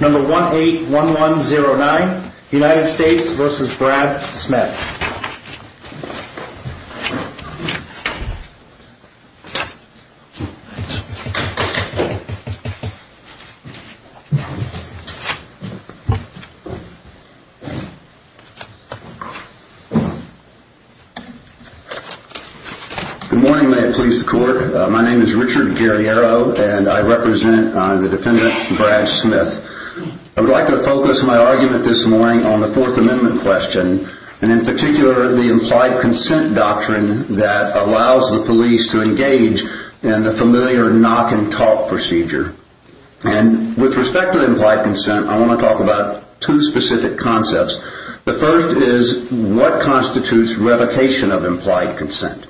No. 181109 United States v. Brad Smith Good morning. May it please the court. My name is Richard Guerriero, and I represent the defendant Brad Smith. I would like to focus my argument this morning on the Fourth Amendment question, and in particular the implied consent doctrine that allows the police to engage in the familiar knock-and-talk procedure. And with respect to implied consent, I want to talk about two specific concepts. The first is what constitutes revocation of implied consent.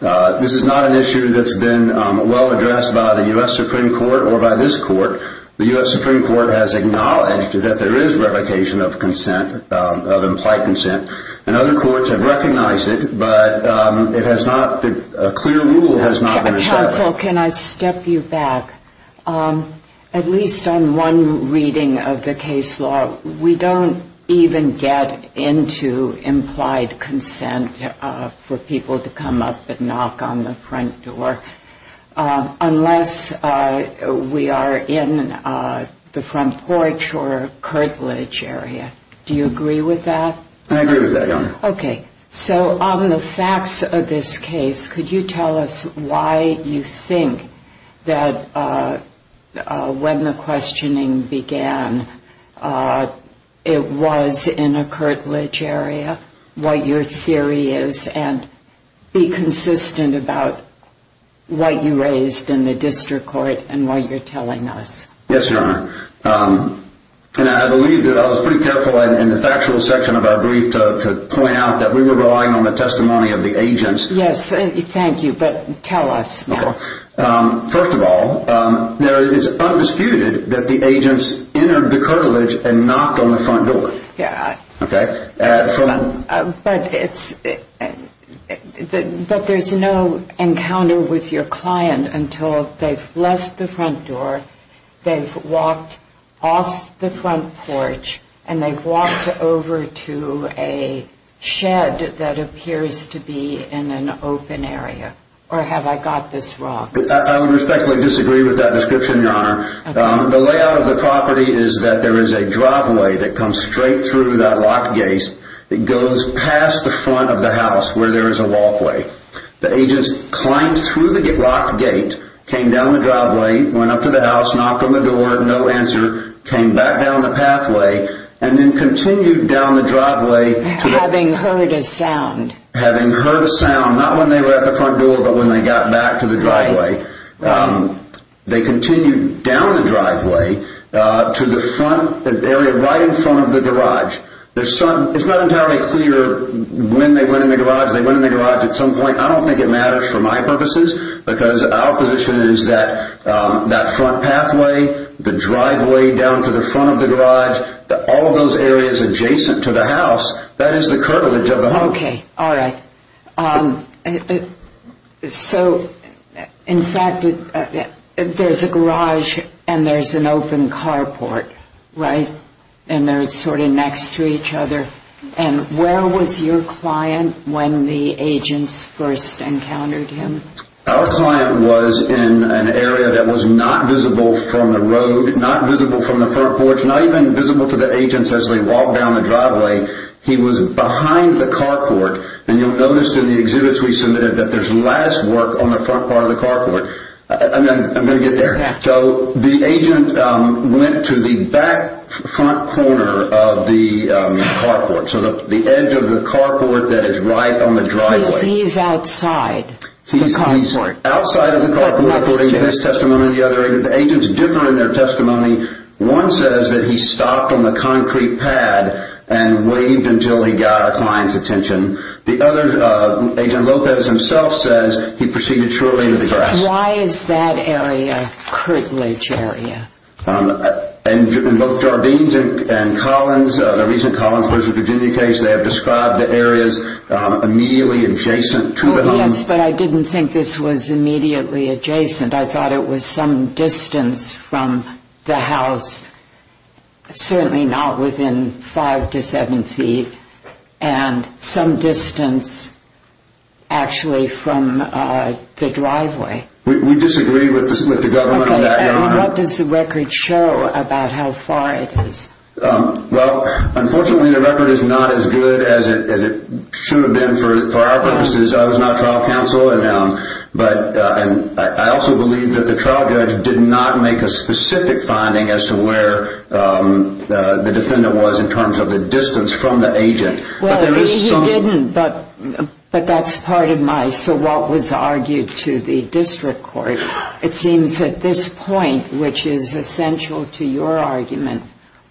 This is not an issue that's been well addressed by the U.S. Supreme Court or by this court. The U.S. Supreme Court has acknowledged that there is revocation of consent, of implied consent, and other courts have recognized it, but it has not, a clear rule has not been established. Counsel, can I step you back? At least on one reading of the case law, we don't even get into implied consent for people to come up and knock on the front door unless we are in the front porch or curtilage area. Do you agree with that? Okay, so on the facts of this case, could you tell us why you think that when the questioning began, it was in a curtilage area, what your theory is, and be consistent about what you raised in the district court and what you're telling us. Yes, Your Honor, and I believe that I was pretty careful in the factual section of our brief to point out that we were relying on the testimony of the agents. Yes, thank you, but tell us now. First of all, it's undisputed that the agents entered the curtilage and knocked on the front door. But there's no encounter with your client until they've left the front door, they've walked off the front porch, and they've walked over to a shed that appears to be in an open area, or have I got this wrong? I would respectfully disagree with that description, Your Honor. The layout of the property is that there is a driveway that comes straight through that locked gate, that goes past the front of the house where there is a walkway. The agents climbed through the locked gate, came down the driveway, went up to the house, knocked on the door, no answer, came back down the pathway, and then continued down the driveway. Having heard a sound. Having heard a sound, not when they were at the front door, but when they got back to the driveway. They continued down the driveway to the front area right in front of the garage. It's not entirely clear when they went in the garage. They went in the garage at some point. I don't think it matters for my purposes because our position is that that front pathway, the driveway down to the front of the garage, all of those areas adjacent to the house, that is the curtilage of the home. Okay. All right. So, in fact, there's a garage and there's an open carport, right? And they're sort of next to each other. And where was your client when the agents first encountered him? Our client was in an area that was not visible from the road, not visible from the front porch, not even visible to the agents as they walked down the driveway. He was behind the carport. And you'll notice in the exhibits we submitted that there's lattice work on the front part of the carport. I'm going to get there. So the agent went to the back front corner of the carport, so the edge of the carport that is right on the driveway. He's outside the carport. He's outside of the carport, according to this testimony and the other. The agents differ in their testimony. One says that he stopped on the concrete pad and waved until he got our client's attention. The other, Agent Lopez himself says he proceeded shortly to the grass. Why is that area a curtilage area? In both Jardine's and Collins, the recent Collins versus Virginia case, they have described the areas immediately adjacent to the home. Oh, yes, but I didn't think this was immediately adjacent. I thought it was some distance from the house, certainly not within five to seven feet, and some distance actually from the driveway. We disagree with the government on that, Your Honor. What does the record show about how far it is? Well, unfortunately, the record is not as good as it should have been for our purposes. I was not trial counsel, and I also believe that the trial judge did not make a specific finding as to where the defendant was in terms of the distance from the agent. Well, he didn't, but that's part of my so what was argued to the district court. It seems that this point, which is essential to your argument,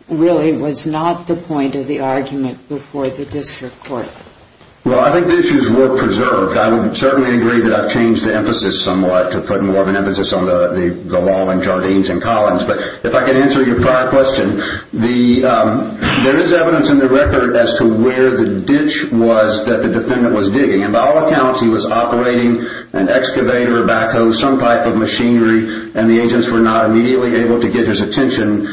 really was not the point of the argument before the district court. Well, I think the issues were preserved. I would certainly agree that I've changed the emphasis somewhat to put more of an emphasis on the law in Jardine's and Collins. But if I can answer your prior question, there is evidence in the record as to where the ditch was that the defendant was digging. And by all accounts, he was operating an excavator, a backhoe, some type of machinery, and the agents were not immediately able to get his attention.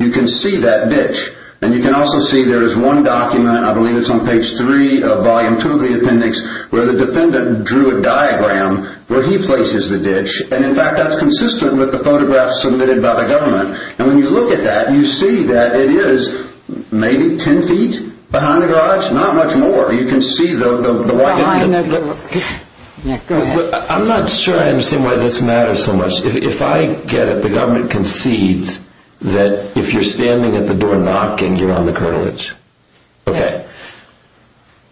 You can see that ditch. And you can also see there is one document, I believe it's on page 3 of volume 2 of the appendix, where the defendant drew a diagram where he places the ditch. And in fact, that's consistent with the photographs submitted by the government. And when you look at that, you see that it is maybe 10 feet behind the garage, not much more. You can see the white line. I'm not sure I understand why this matters so much. If I get it, the government concedes that if you're standing at the door knocking, you're on the curtilage. Okay.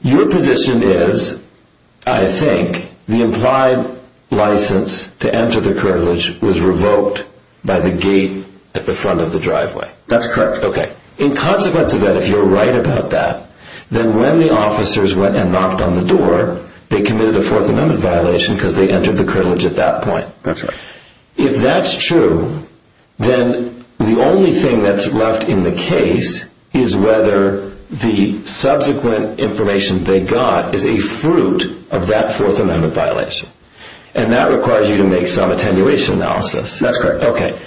Your position is, I think, the implied license to enter the curtilage was revoked by the gate at the front of the driveway. That's correct. Okay. In consequence of that, if you're right about that, then when the officers went and knocked on the door, they committed a Fourth Amendment violation because they entered the curtilage at that point. That's right. If that's true, then the only thing that's left in the case is whether the subsequent information they got is a fruit of that Fourth Amendment violation. And that requires you to make some attenuation analysis. That's correct. Okay.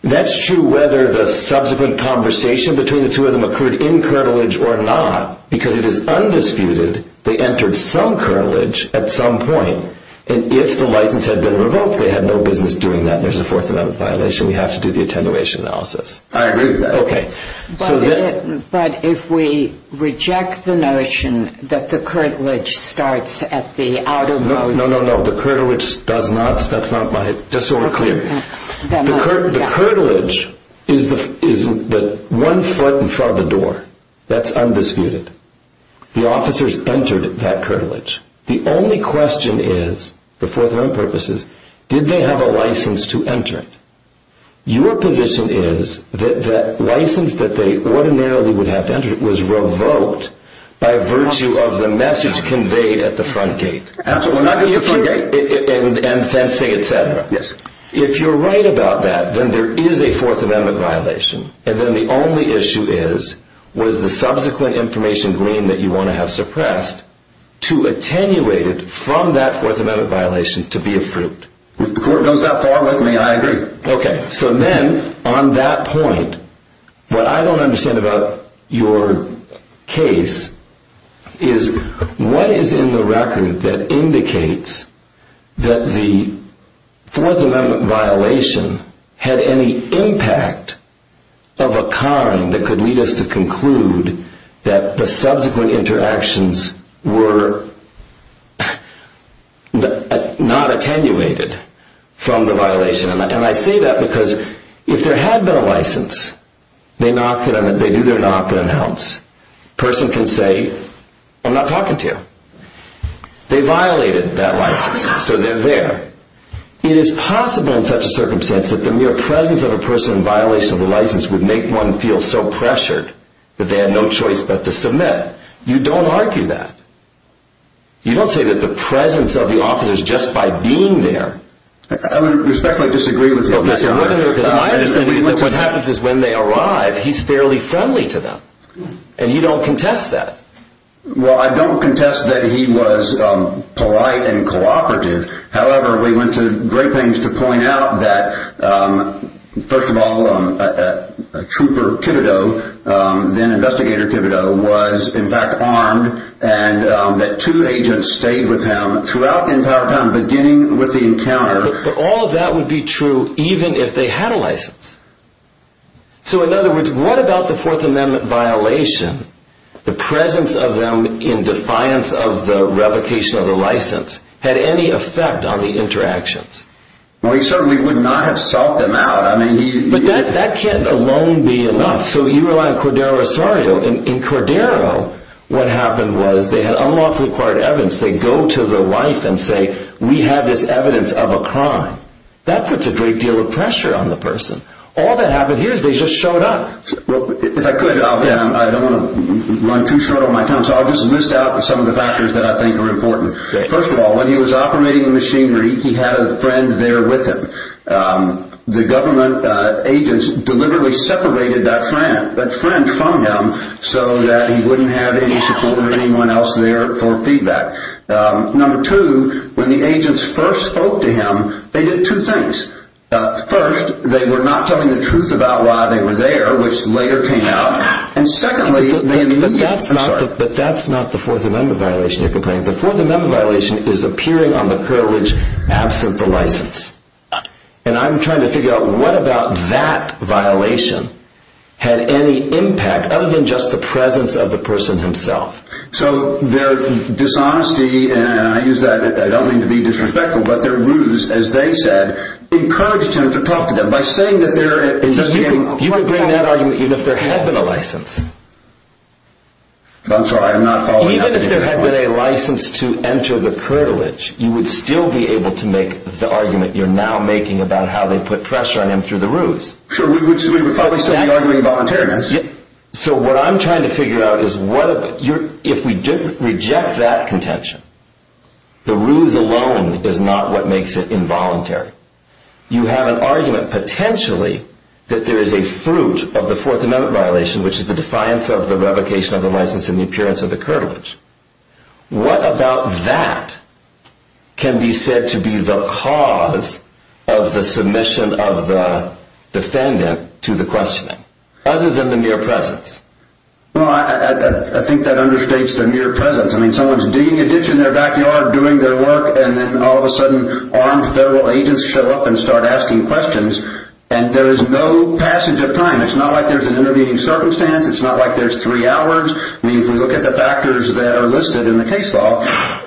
That's true whether the subsequent conversation between the two of them occurred in curtilage or not, because it is undisputed they entered some curtilage at some point. And if the license had been revoked, they had no business doing that. There's a Fourth Amendment violation. We have to do the attenuation analysis. I agree with that. Okay. But if we reject the notion that the curtilage starts at the outer most— No, no, no. The curtilage does not. That's not my—just so we're clear. The curtilage is one foot in front of the door. That's undisputed. The officers entered that curtilage. The only question is, for Fourth Amendment purposes, did they have a license to enter it? Your position is that the license that they ordinarily would have to enter it was revoked by virtue of the message conveyed at the front gate. Absolutely. At the front gate. And fencing, et cetera. Yes. If you're right about that, then there is a Fourth Amendment violation. And then the only issue is, was the subsequent information gleaned that you want to have suppressed to attenuate it from that Fourth Amendment violation to be a fruit? If the Court goes that far with me, I agree. Okay. So then, on that point, what I don't understand about your case is, what is in the record that indicates that the Fourth Amendment violation had any impact of a kind that could lead us to conclude that the subsequent interactions were not attenuated from the violation? And I say that because if there had been a license, they do their knock and announce. A person can say, I'm not talking to you. They violated that license, so they're there. It is possible in such a circumstance that the mere presence of a person in violation of the license would make one feel so pressured that they had no choice but to submit. You don't argue that. You don't say that the presence of the officers just by being there. I would respectfully disagree with that. What happens is when they arrive, he's fairly friendly to them. And you don't contest that. Well, I don't contest that he was polite and cooperative. However, we went to great lengths to point out that, first of all, Trooper Kibito, then Investigator Kibito, was in fact armed, and that two agents stayed with him throughout the entire time, beginning with the encounter. But all of that would be true even if they had a license. So in other words, what about the Fourth Amendment violation? The presence of them in defiance of the revocation of the license had any effect on the interactions? Well, he certainly would not have sought them out. But that can't alone be enough. So you rely on Cordero Osorio. In Cordero, what happened was they had unlawfully acquired evidence. They go to their wife and say, we have this evidence of a crime. That puts a great deal of pressure on the person. All that happened here is they just showed up. If I could, I don't want to run too short on my time, so I'll just list out some of the factors that I think are important. First of all, when he was operating the machinery, he had a friend there with him. The government agents deliberately separated that friend from him so that he wouldn't have any support or anyone else there for feedback. Number two, when the agents first spoke to him, they did two things. First, they were not telling the truth about why they were there, which later came out. And secondly, they immediately— But that's not the Fourth Amendment violation you're complaining about. The Fourth Amendment violation is appearing on the privilege absent the license. And I'm trying to figure out what about that violation had any impact other than just the presence of the person himself. So their dishonesty, and I use that, I don't mean to be disrespectful, but their ruse, as they said, encouraged him to talk to them. So you could bring that argument even if there had been a license. I'm sorry, I'm not following that. Even if there had been a license to enter the curtilage, you would still be able to make the argument you're now making about how they put pressure on him through the ruse. Sure, we would probably still be arguing voluntariness. So what I'm trying to figure out is if we reject that contention, the ruse alone is not what makes it involuntary. You have an argument potentially that there is a fruit of the Fourth Amendment violation, which is the defiance of the revocation of the license and the appearance of the curtilage. What about that can be said to be the cause of the submission of the defendant to the questioning, other than the mere presence? I think that understates the mere presence. Someone's digging a ditch in their backyard, doing their work, and then all of a sudden armed federal agents show up and start asking questions, and there is no passage of time. It's not like there's an intervening circumstance. It's not like there's three hours. I mean, if we look at the factors that are listed in the case law,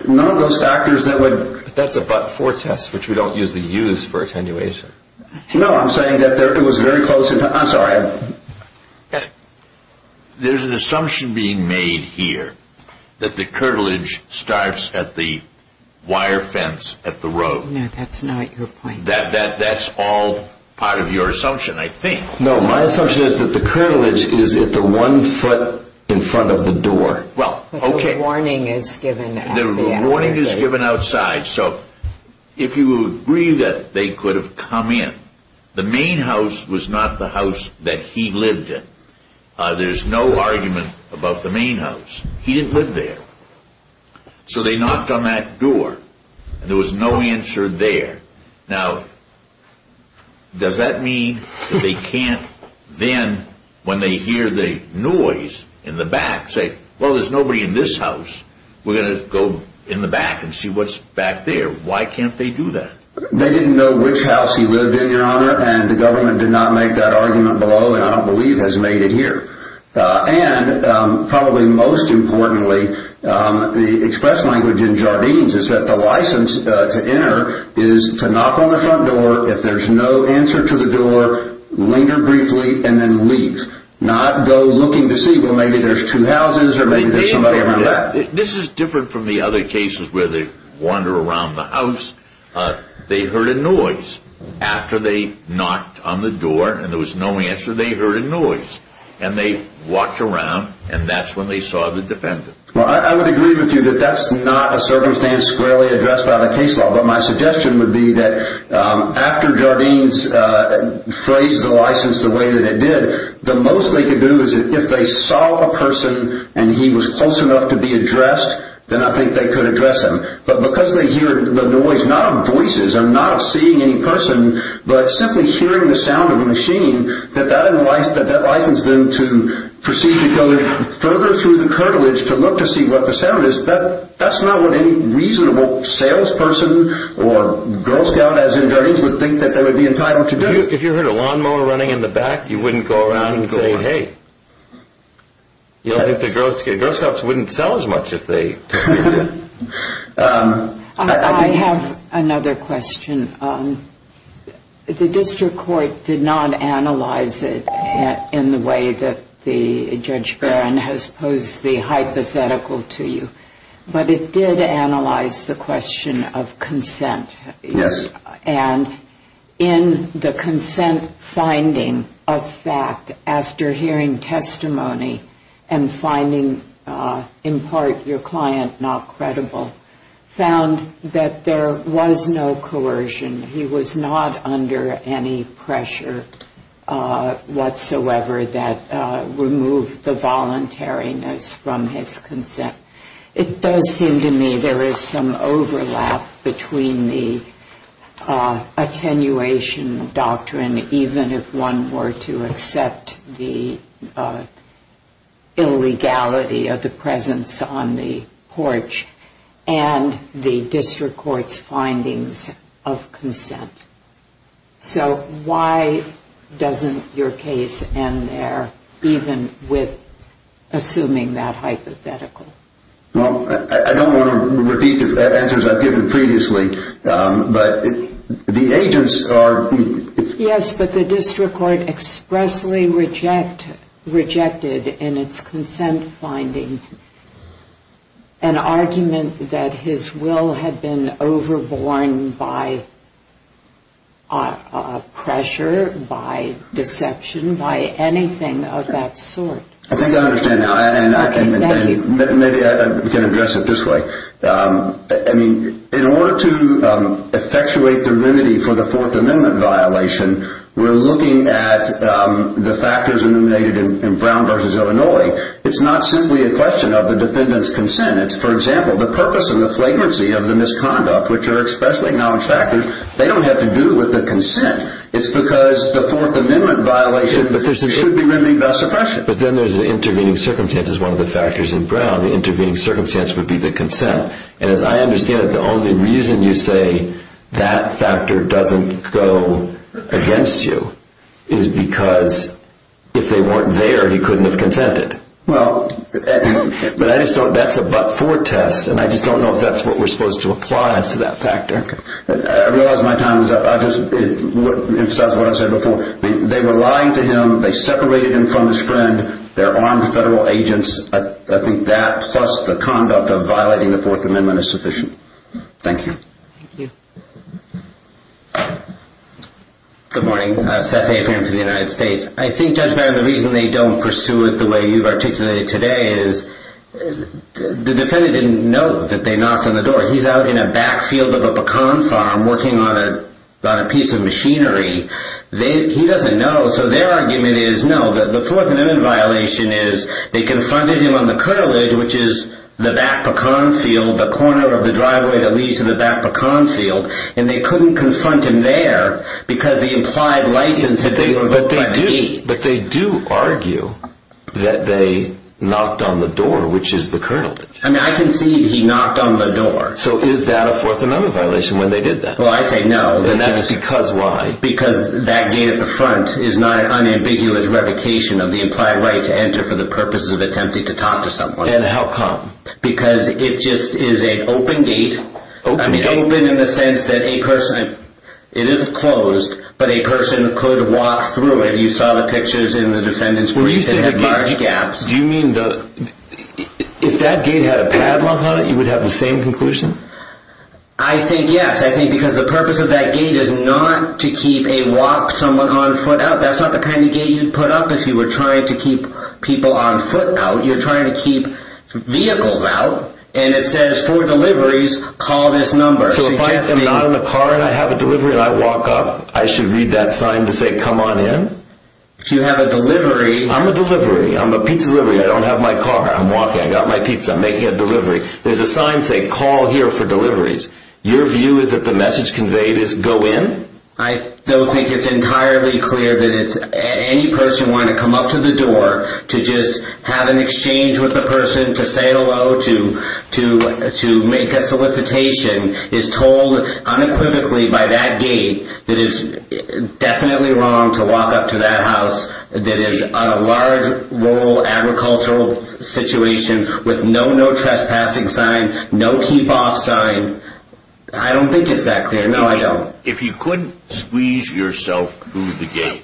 none of those factors that would That's a but-for test, which we don't usually use for attenuation. No, I'm saying that it was very close. I'm sorry. There's an assumption being made here that the curtilage starts at the wire fence at the road. No, that's not your point. That's all part of your assumption, I think. No, my assumption is that the curtilage is at the one foot in front of the door. Well, okay. The warning is given outside. The warning is given outside. So if you agree that they could have come in, the main house was not the house that he lived in. There's no argument about the main house. He didn't live there. So they knocked on that door, and there was no answer there. Now, does that mean that they can't then, when they hear the noise in the back, say, Well, there's nobody in this house. We're going to go in the back and see what's back there. Why can't they do that? They didn't know which house he lived in, Your Honor, and the government did not make that argument below, and I don't believe has made it here. And probably most importantly, the express language in Jardines is that the license to enter is to knock on the front door. If there's no answer to the door, linger briefly and then leave, not go looking to see, Well, maybe there's two houses or maybe there's somebody in the back. This is different from the other cases where they wander around the house. They heard a noise. After they knocked on the door and there was no answer, they heard a noise. And they walked around, and that's when they saw the defendant. Well, I would agree with you that that's not a circumstance squarely addressed by the case law, but my suggestion would be that after Jardines phrased the license the way that it did, the most they could do is if they saw a person and he was close enough to be addressed, then I think they could address him. But because they hear the noise, not of voices or not of seeing any person, but simply hearing the sound of a machine, that that licensed them to proceed to go further through the curtilage to look to see what the sound is, that's not what any reasonable salesperson or Girl Scout as in Jardines would think that they would be entitled to do. If you heard a lawnmower running in the back, you wouldn't go around and say, Hey, you don't think the Girl Scouts wouldn't sell as much if they did. I have another question. The district court did not analyze it in the way that Judge Barron has posed the hypothetical to you, but it did analyze the question of consent. Yes. And in the consent finding of fact, after hearing testimony and finding in part your client not credible, found that there was no coercion. He was not under any pressure whatsoever that removed the voluntariness from his consent. It does seem to me there is some overlap between the attenuation doctrine, even if one were to accept the illegality of the presence on the porch, and the district court's findings of consent. So why doesn't your case end there, even with assuming that hypothetical? Well, I don't want to repeat the answers I've given previously, but the agents are... Yes, but the district court expressly rejected in its consent finding an argument that his will had been overborne by pressure, by deception, by anything of that sort. I think I understand now, and maybe I can address it this way. I mean, in order to effectuate the remedy for the Fourth Amendment violation, we're looking at the factors eliminated in Brown v. Illinois. It's not simply a question of the defendant's consent. It's, for example, the purpose and the flagrancy of the misconduct, which are expressly acknowledged factors. They don't have to do with the consent. It's because the Fourth Amendment violation should be remedied by suppression. But then there's the intervening circumstances, one of the factors in Brown. The intervening circumstance would be the consent. And as I understand it, the only reason you say that factor doesn't go against you is because if they weren't there, he couldn't have consented. Well, but I just thought that's a but-for test, and I just don't know if that's what we're supposed to apply as to that factor. Okay. I realize my time is up. I'll just emphasize what I said before. They were lying to him. They separated him from his friend. They're armed federal agents. I think that plus the conduct of violating the Fourth Amendment is sufficient. Thank you. Thank you. Good morning. Seth A. Fan for the United States. I think, Judge Barron, the reason they don't pursue it the way you've articulated today is the defendant didn't know that they knocked on the door. He's out in a backfield of a pecan farm working on a piece of machinery. He doesn't know. So their argument is, no, the Fourth Amendment violation is they confronted him on the curtilage, which is the back pecan field, the corner of the driveway that leads to the back pecan field, and they couldn't confront him there because the implied license had been revoked by the gate. But they do argue that they knocked on the door, which is the curtilage. I mean, I concede he knocked on the door. So is that a Fourth Amendment violation when they did that? Well, I say no. And that's because why? Because that gate at the front is not an unambiguous revocation of the implied right to enter for the purposes of attempting to talk to someone. And how come? Because it just is an open gate. Open gate? Open in the sense that a person, it isn't closed, but a person could walk through it. You saw the pictures in the defendant's brief that have large gaps. Do you mean if that gate had a padlock on it, you would have the same conclusion? I think yes. I think because the purpose of that gate is not to keep a walk, someone on foot out. That's not the kind of gate you'd put up if you were trying to keep people on foot out. You're trying to keep vehicles out. And it says for deliveries, call this number. So if I am not in the car and I have a delivery and I walk up, I should read that sign to say come on in? If you have a delivery. I'm a delivery. I'm a pizza delivery. I don't have my car. I'm walking. I got my pizza. I'm making a delivery. There's a sign saying call here for deliveries. Your view is that the message conveyed is go in? I don't think it's entirely clear that it's any person wanting to come up to the door to just have an exchange with the person, to say hello, to make a solicitation, is told unequivocally by that gate that it's definitely wrong to walk up to that house that is a large rural agricultural situation with no no trespassing sign, no keep off sign. I don't think it's that clear. No, I don't. If you couldn't squeeze yourself through the gate,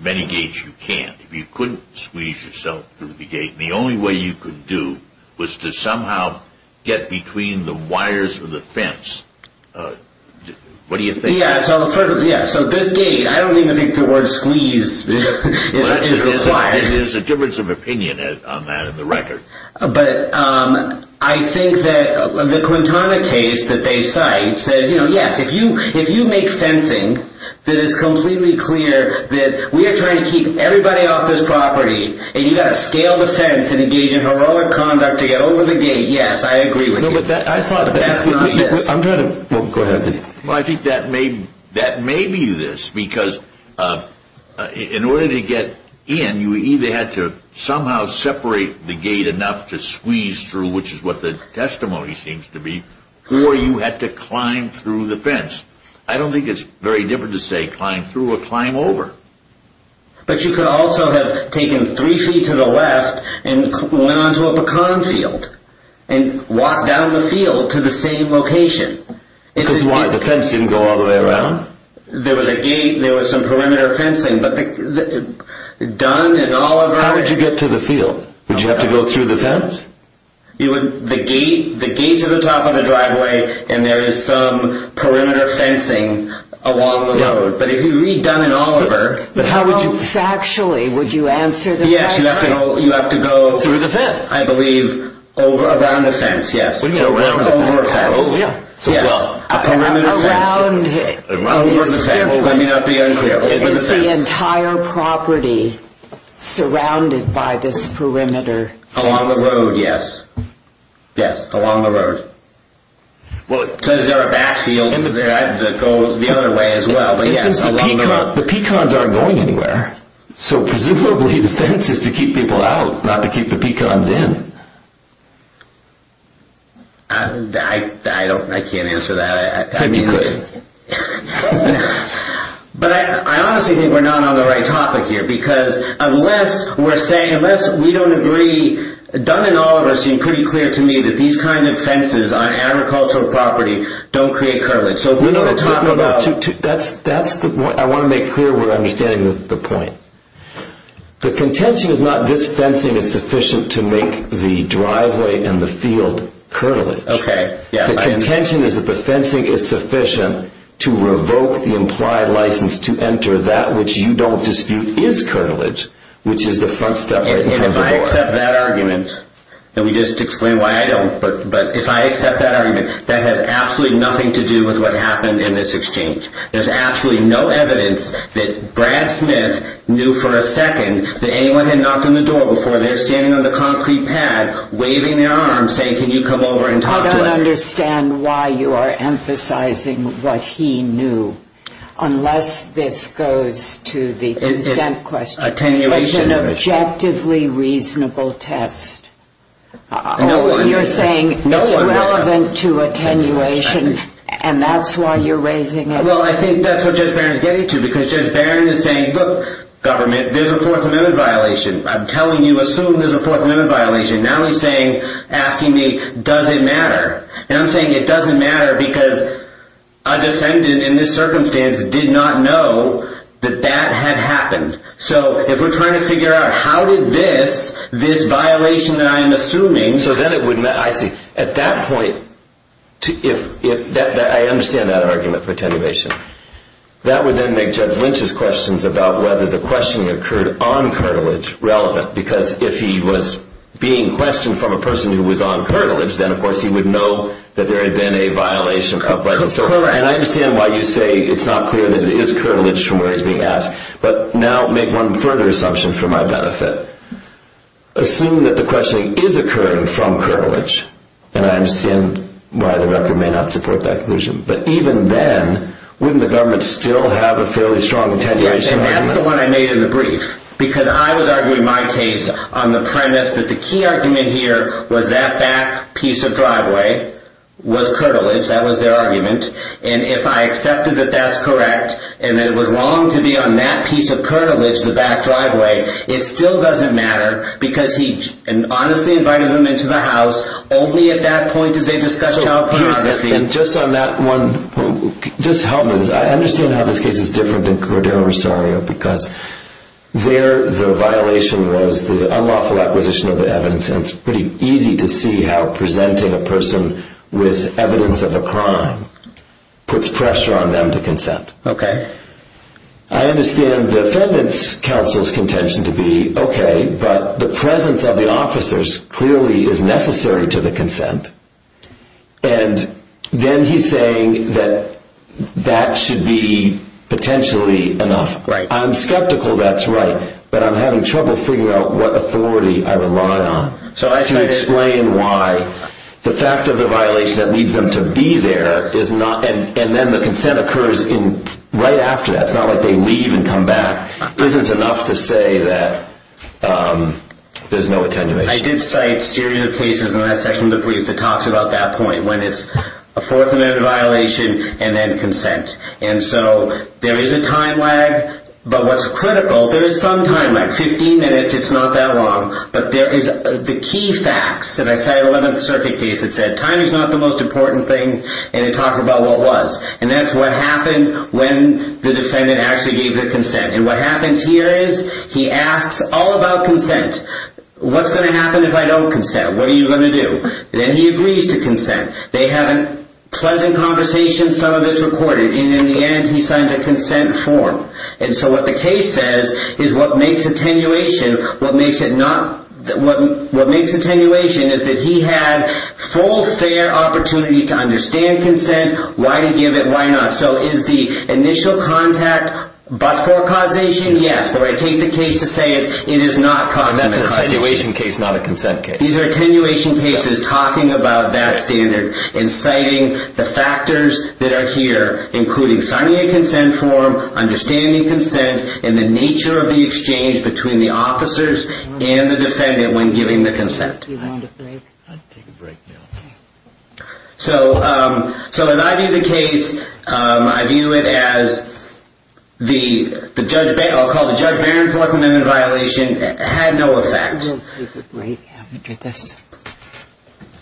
many gates you can. If you couldn't squeeze yourself through the gate, the only way you could do was to somehow get between the wires or the fence. What do you think? Yeah, so this gate, I don't even think the word squeeze is required. There's a difference of opinion on that in the record. But I think that the Quintana case that they cite says yes, if you make fencing that is and you've got to scale the fence and engage in heroic conduct to get over the gate, yes, I agree with you. I thought that's not it. Go ahead. I think that may be this because in order to get in, you either had to somehow separate the gate enough to squeeze through, which is what the testimony seems to be, or you had to climb through the fence. I don't think it's very different to say climb through or climb over. But you could also have taken three feet to the left and went onto a pecan field and walked down the field to the same location. Because the fence didn't go all the way around? There was a gate and there was some perimeter fencing, but Dunn and Oliver... How did you get to the field? Did you have to go through the fence? The gate's at the top of the driveway and there is some perimeter fencing along the road. But if you read Dunn and Oliver... How factually would you answer the question? Yes, you have to go... Through the fence? I believe, over, around the fence, yes. What do you mean, around the fence? Over a fence. Over? Yes, a perimeter fence. Around... Over the fence. Let me not be unclear. Over the fence. It's the entire property surrounded by this perimeter fence. Along the road, yes. Yes, along the road. Because there are backfields, they have to go the other way as well. The peacons aren't going anywhere. So presumably the fence is to keep people out, not to keep the peacons in. I can't answer that. I mean... You could. But I honestly think we're not on the right topic here. Because unless we're saying... Unless we don't agree... None and all of us seem pretty clear to me that these kinds of fences on agricultural property don't create curtilage. So if we're talking about... No, no, no. That's the point. I want to make clear we're understanding the point. The contention is not this fencing is sufficient to make the driveway and the field curtilage. Okay, yes. The contention is that the fencing is sufficient to revoke the implied license to enter that which you don't dispute is curtilage, which is the front step right in front of the door. Okay, and if I accept that argument... And we just explained why I don't. But if I accept that argument, that has absolutely nothing to do with what happened in this exchange. There's absolutely no evidence that Brad Smith knew for a second that anyone had knocked on the door before they're standing on the concrete pad, waving their arms, saying, can you come over and talk to us? I don't understand why you are emphasizing what he knew. Unless this goes to the consent question. It's an objectively reasonable test. You're saying it's relevant to attenuation, and that's why you're raising it. Well, I think that's what Judge Barron is getting to, because Judge Barron is saying, look, government, there's a Fourth Amendment violation. I'm telling you, assume there's a Fourth Amendment violation. Now he's asking me, does it matter? And I'm saying it doesn't matter, because a defendant in this circumstance did not know that that had happened. So if we're trying to figure out how did this, this violation that I'm assuming... So then it would matter. I see. At that point, I understand that argument for attenuation. That would then make Judge Lynch's questions about whether the questioning occurred on cartilage relevant. Because if he was being questioned from a person who was on cartilage, then of course he would know that there had been a violation of legislation. And I understand why you say it's not clear that it is cartilage from where he's being asked. But now make one further assumption for my benefit. Assume that the questioning is occurring from cartilage, and I understand why the record may not support that conclusion. But even then, wouldn't the government still have a fairly strong attenuation? And that's the one I made in the brief, because I was arguing my case on the premise that the key argument here was that back piece of driveway was cartilage. That was their argument. And if I accepted that that's correct, and that it was wrong to be on that piece of cartilage, the back driveway, it still doesn't matter, because he honestly invited them into the house. Only at that point did they discuss child pornography. And just on that one point, just help me with this. I understand how this case is different than Cordeiro Rosario, because there the violation was the unlawful acquisition of the evidence, and it's pretty easy to see how presenting a person with evidence of a crime puts pressure on them to consent. Okay. I understand the defendant's counsel's contention to be okay, but the presence of the officers clearly is necessary to the consent. And then he's saying that that should be potentially enough. Right. I'm skeptical that's right, but I'm having trouble figuring out what authority I rely on to explain why the fact of the violation that leads them to be there, and then the consent occurs right after that, it's not like they leave and come back, isn't enough to say that there's no attenuation. I did cite a series of cases in that section of the brief that talks about that point, when it's a fourth amendment violation and then consent. And so there is a time lag, but what's critical, there is some time lag. Fifteen minutes, it's not that long, but there is the key facts, and I cited an 11th Circuit case that said time is not the most important thing, and it talked about what was. And that's what happened when the defendant actually gave the consent. And what happens here is he asks all about consent. What's going to happen if I don't consent? What are you going to do? Then he agrees to consent. They have a pleasant conversation, some of it's recorded. And in the end, he signs a consent form. And so what the case says is what makes attenuation, what makes attenuation is that he had full, fair opportunity to understand consent, why to give it, why not. So is the initial contact but for causation? Yes, but what I take the case to say is it is not causation. That's an attenuation case, not a consent case. These are attenuation cases talking about that standard and citing the factors that are here, including signing a consent form, understanding consent, and the nature of the exchange between the officers and the defendant when giving the consent. Do you want to take a break? I'll take a break now. So in my view of the case, I view it as the judge, I'll call it Judge Barron's recommended violation had no effect.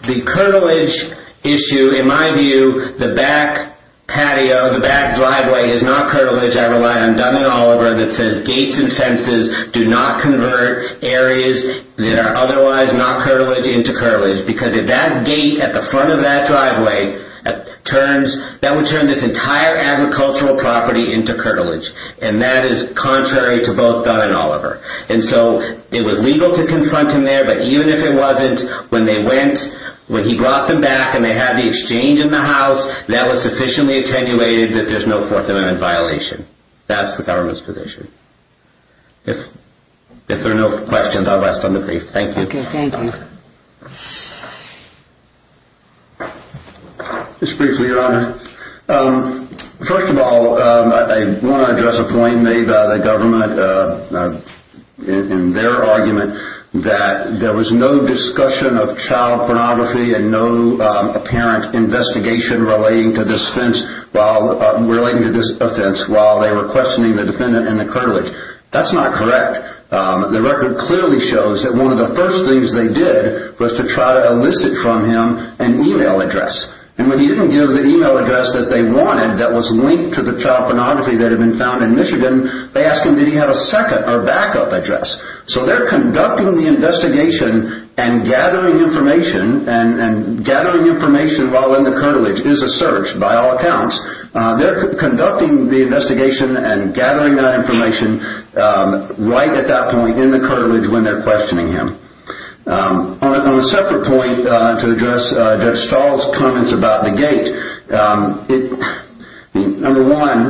The curtilage issue, in my view, the back patio, the back driveway is not curtilage. I rely on Dun & Oliver that says gates and fences do not convert areas that are otherwise not curtilage into curtilage because if that gate at the front of that driveway turns, that would turn this entire agricultural property into curtilage, and that is contrary to both Dun & Oliver. And so it was legal to confront him there, but even if it wasn't, when he brought them back and they had the exchange in the house, that was sufficiently attenuated that there's no Fourth Amendment violation. That's the government's position. Thank you. Okay, thank you. Just briefly, Your Honor. First of all, I want to address a point made by the government in their argument that there was no discussion of child pornography and no apparent investigation relating to this offense while they were questioning the defendant in the curtilage. That's not correct. The record clearly shows that one of the first things they did was to try to elicit from him an email address, and when he didn't give the email address that they wanted that was linked to the child pornography that had been found in Michigan, they asked him did he have a second or backup address. So they're conducting the investigation and gathering information, and gathering information while in the curtilage is a search by all accounts. They're conducting the investigation and gathering that information right at that point in the curtilage when they're questioning him. On a separate point to address Judge Stahl's comments about the gate, number one,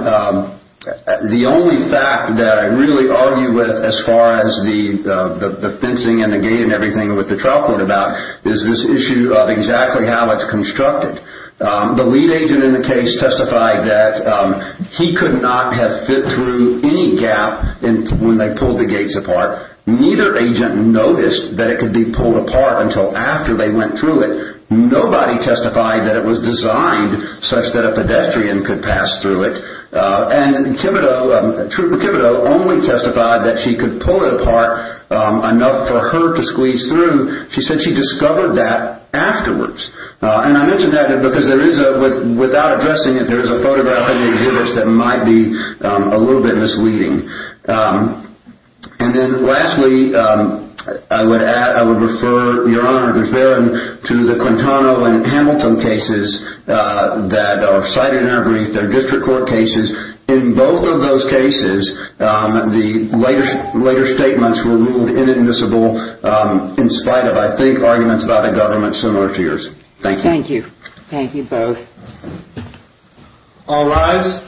the only fact that I really argue with as far as the fencing and the gate and everything with the trial court about is this issue of exactly how it's constructed. The lead agent in the case testified that he could not have fit through any gap when they pulled the gates apart. Neither agent noticed that it could be pulled apart until after they went through it. Nobody testified that it was designed such that a pedestrian could pass through it, and Trooper Kibito only testified that she could pull it apart enough for her to squeeze through. She said she discovered that afterwards, And I mention that because without addressing it, there is a photograph of the exhibits that might be a little bit misleading. And then lastly, I would refer, Your Honor, to the Quintano and Hamilton cases that are cited in our brief. They're district court cases. In both of those cases, the later statements were ruled inadmissible in spite of, I think, arguments by the government similar to yours. Thank you. Thank you. Thank you both. All rise.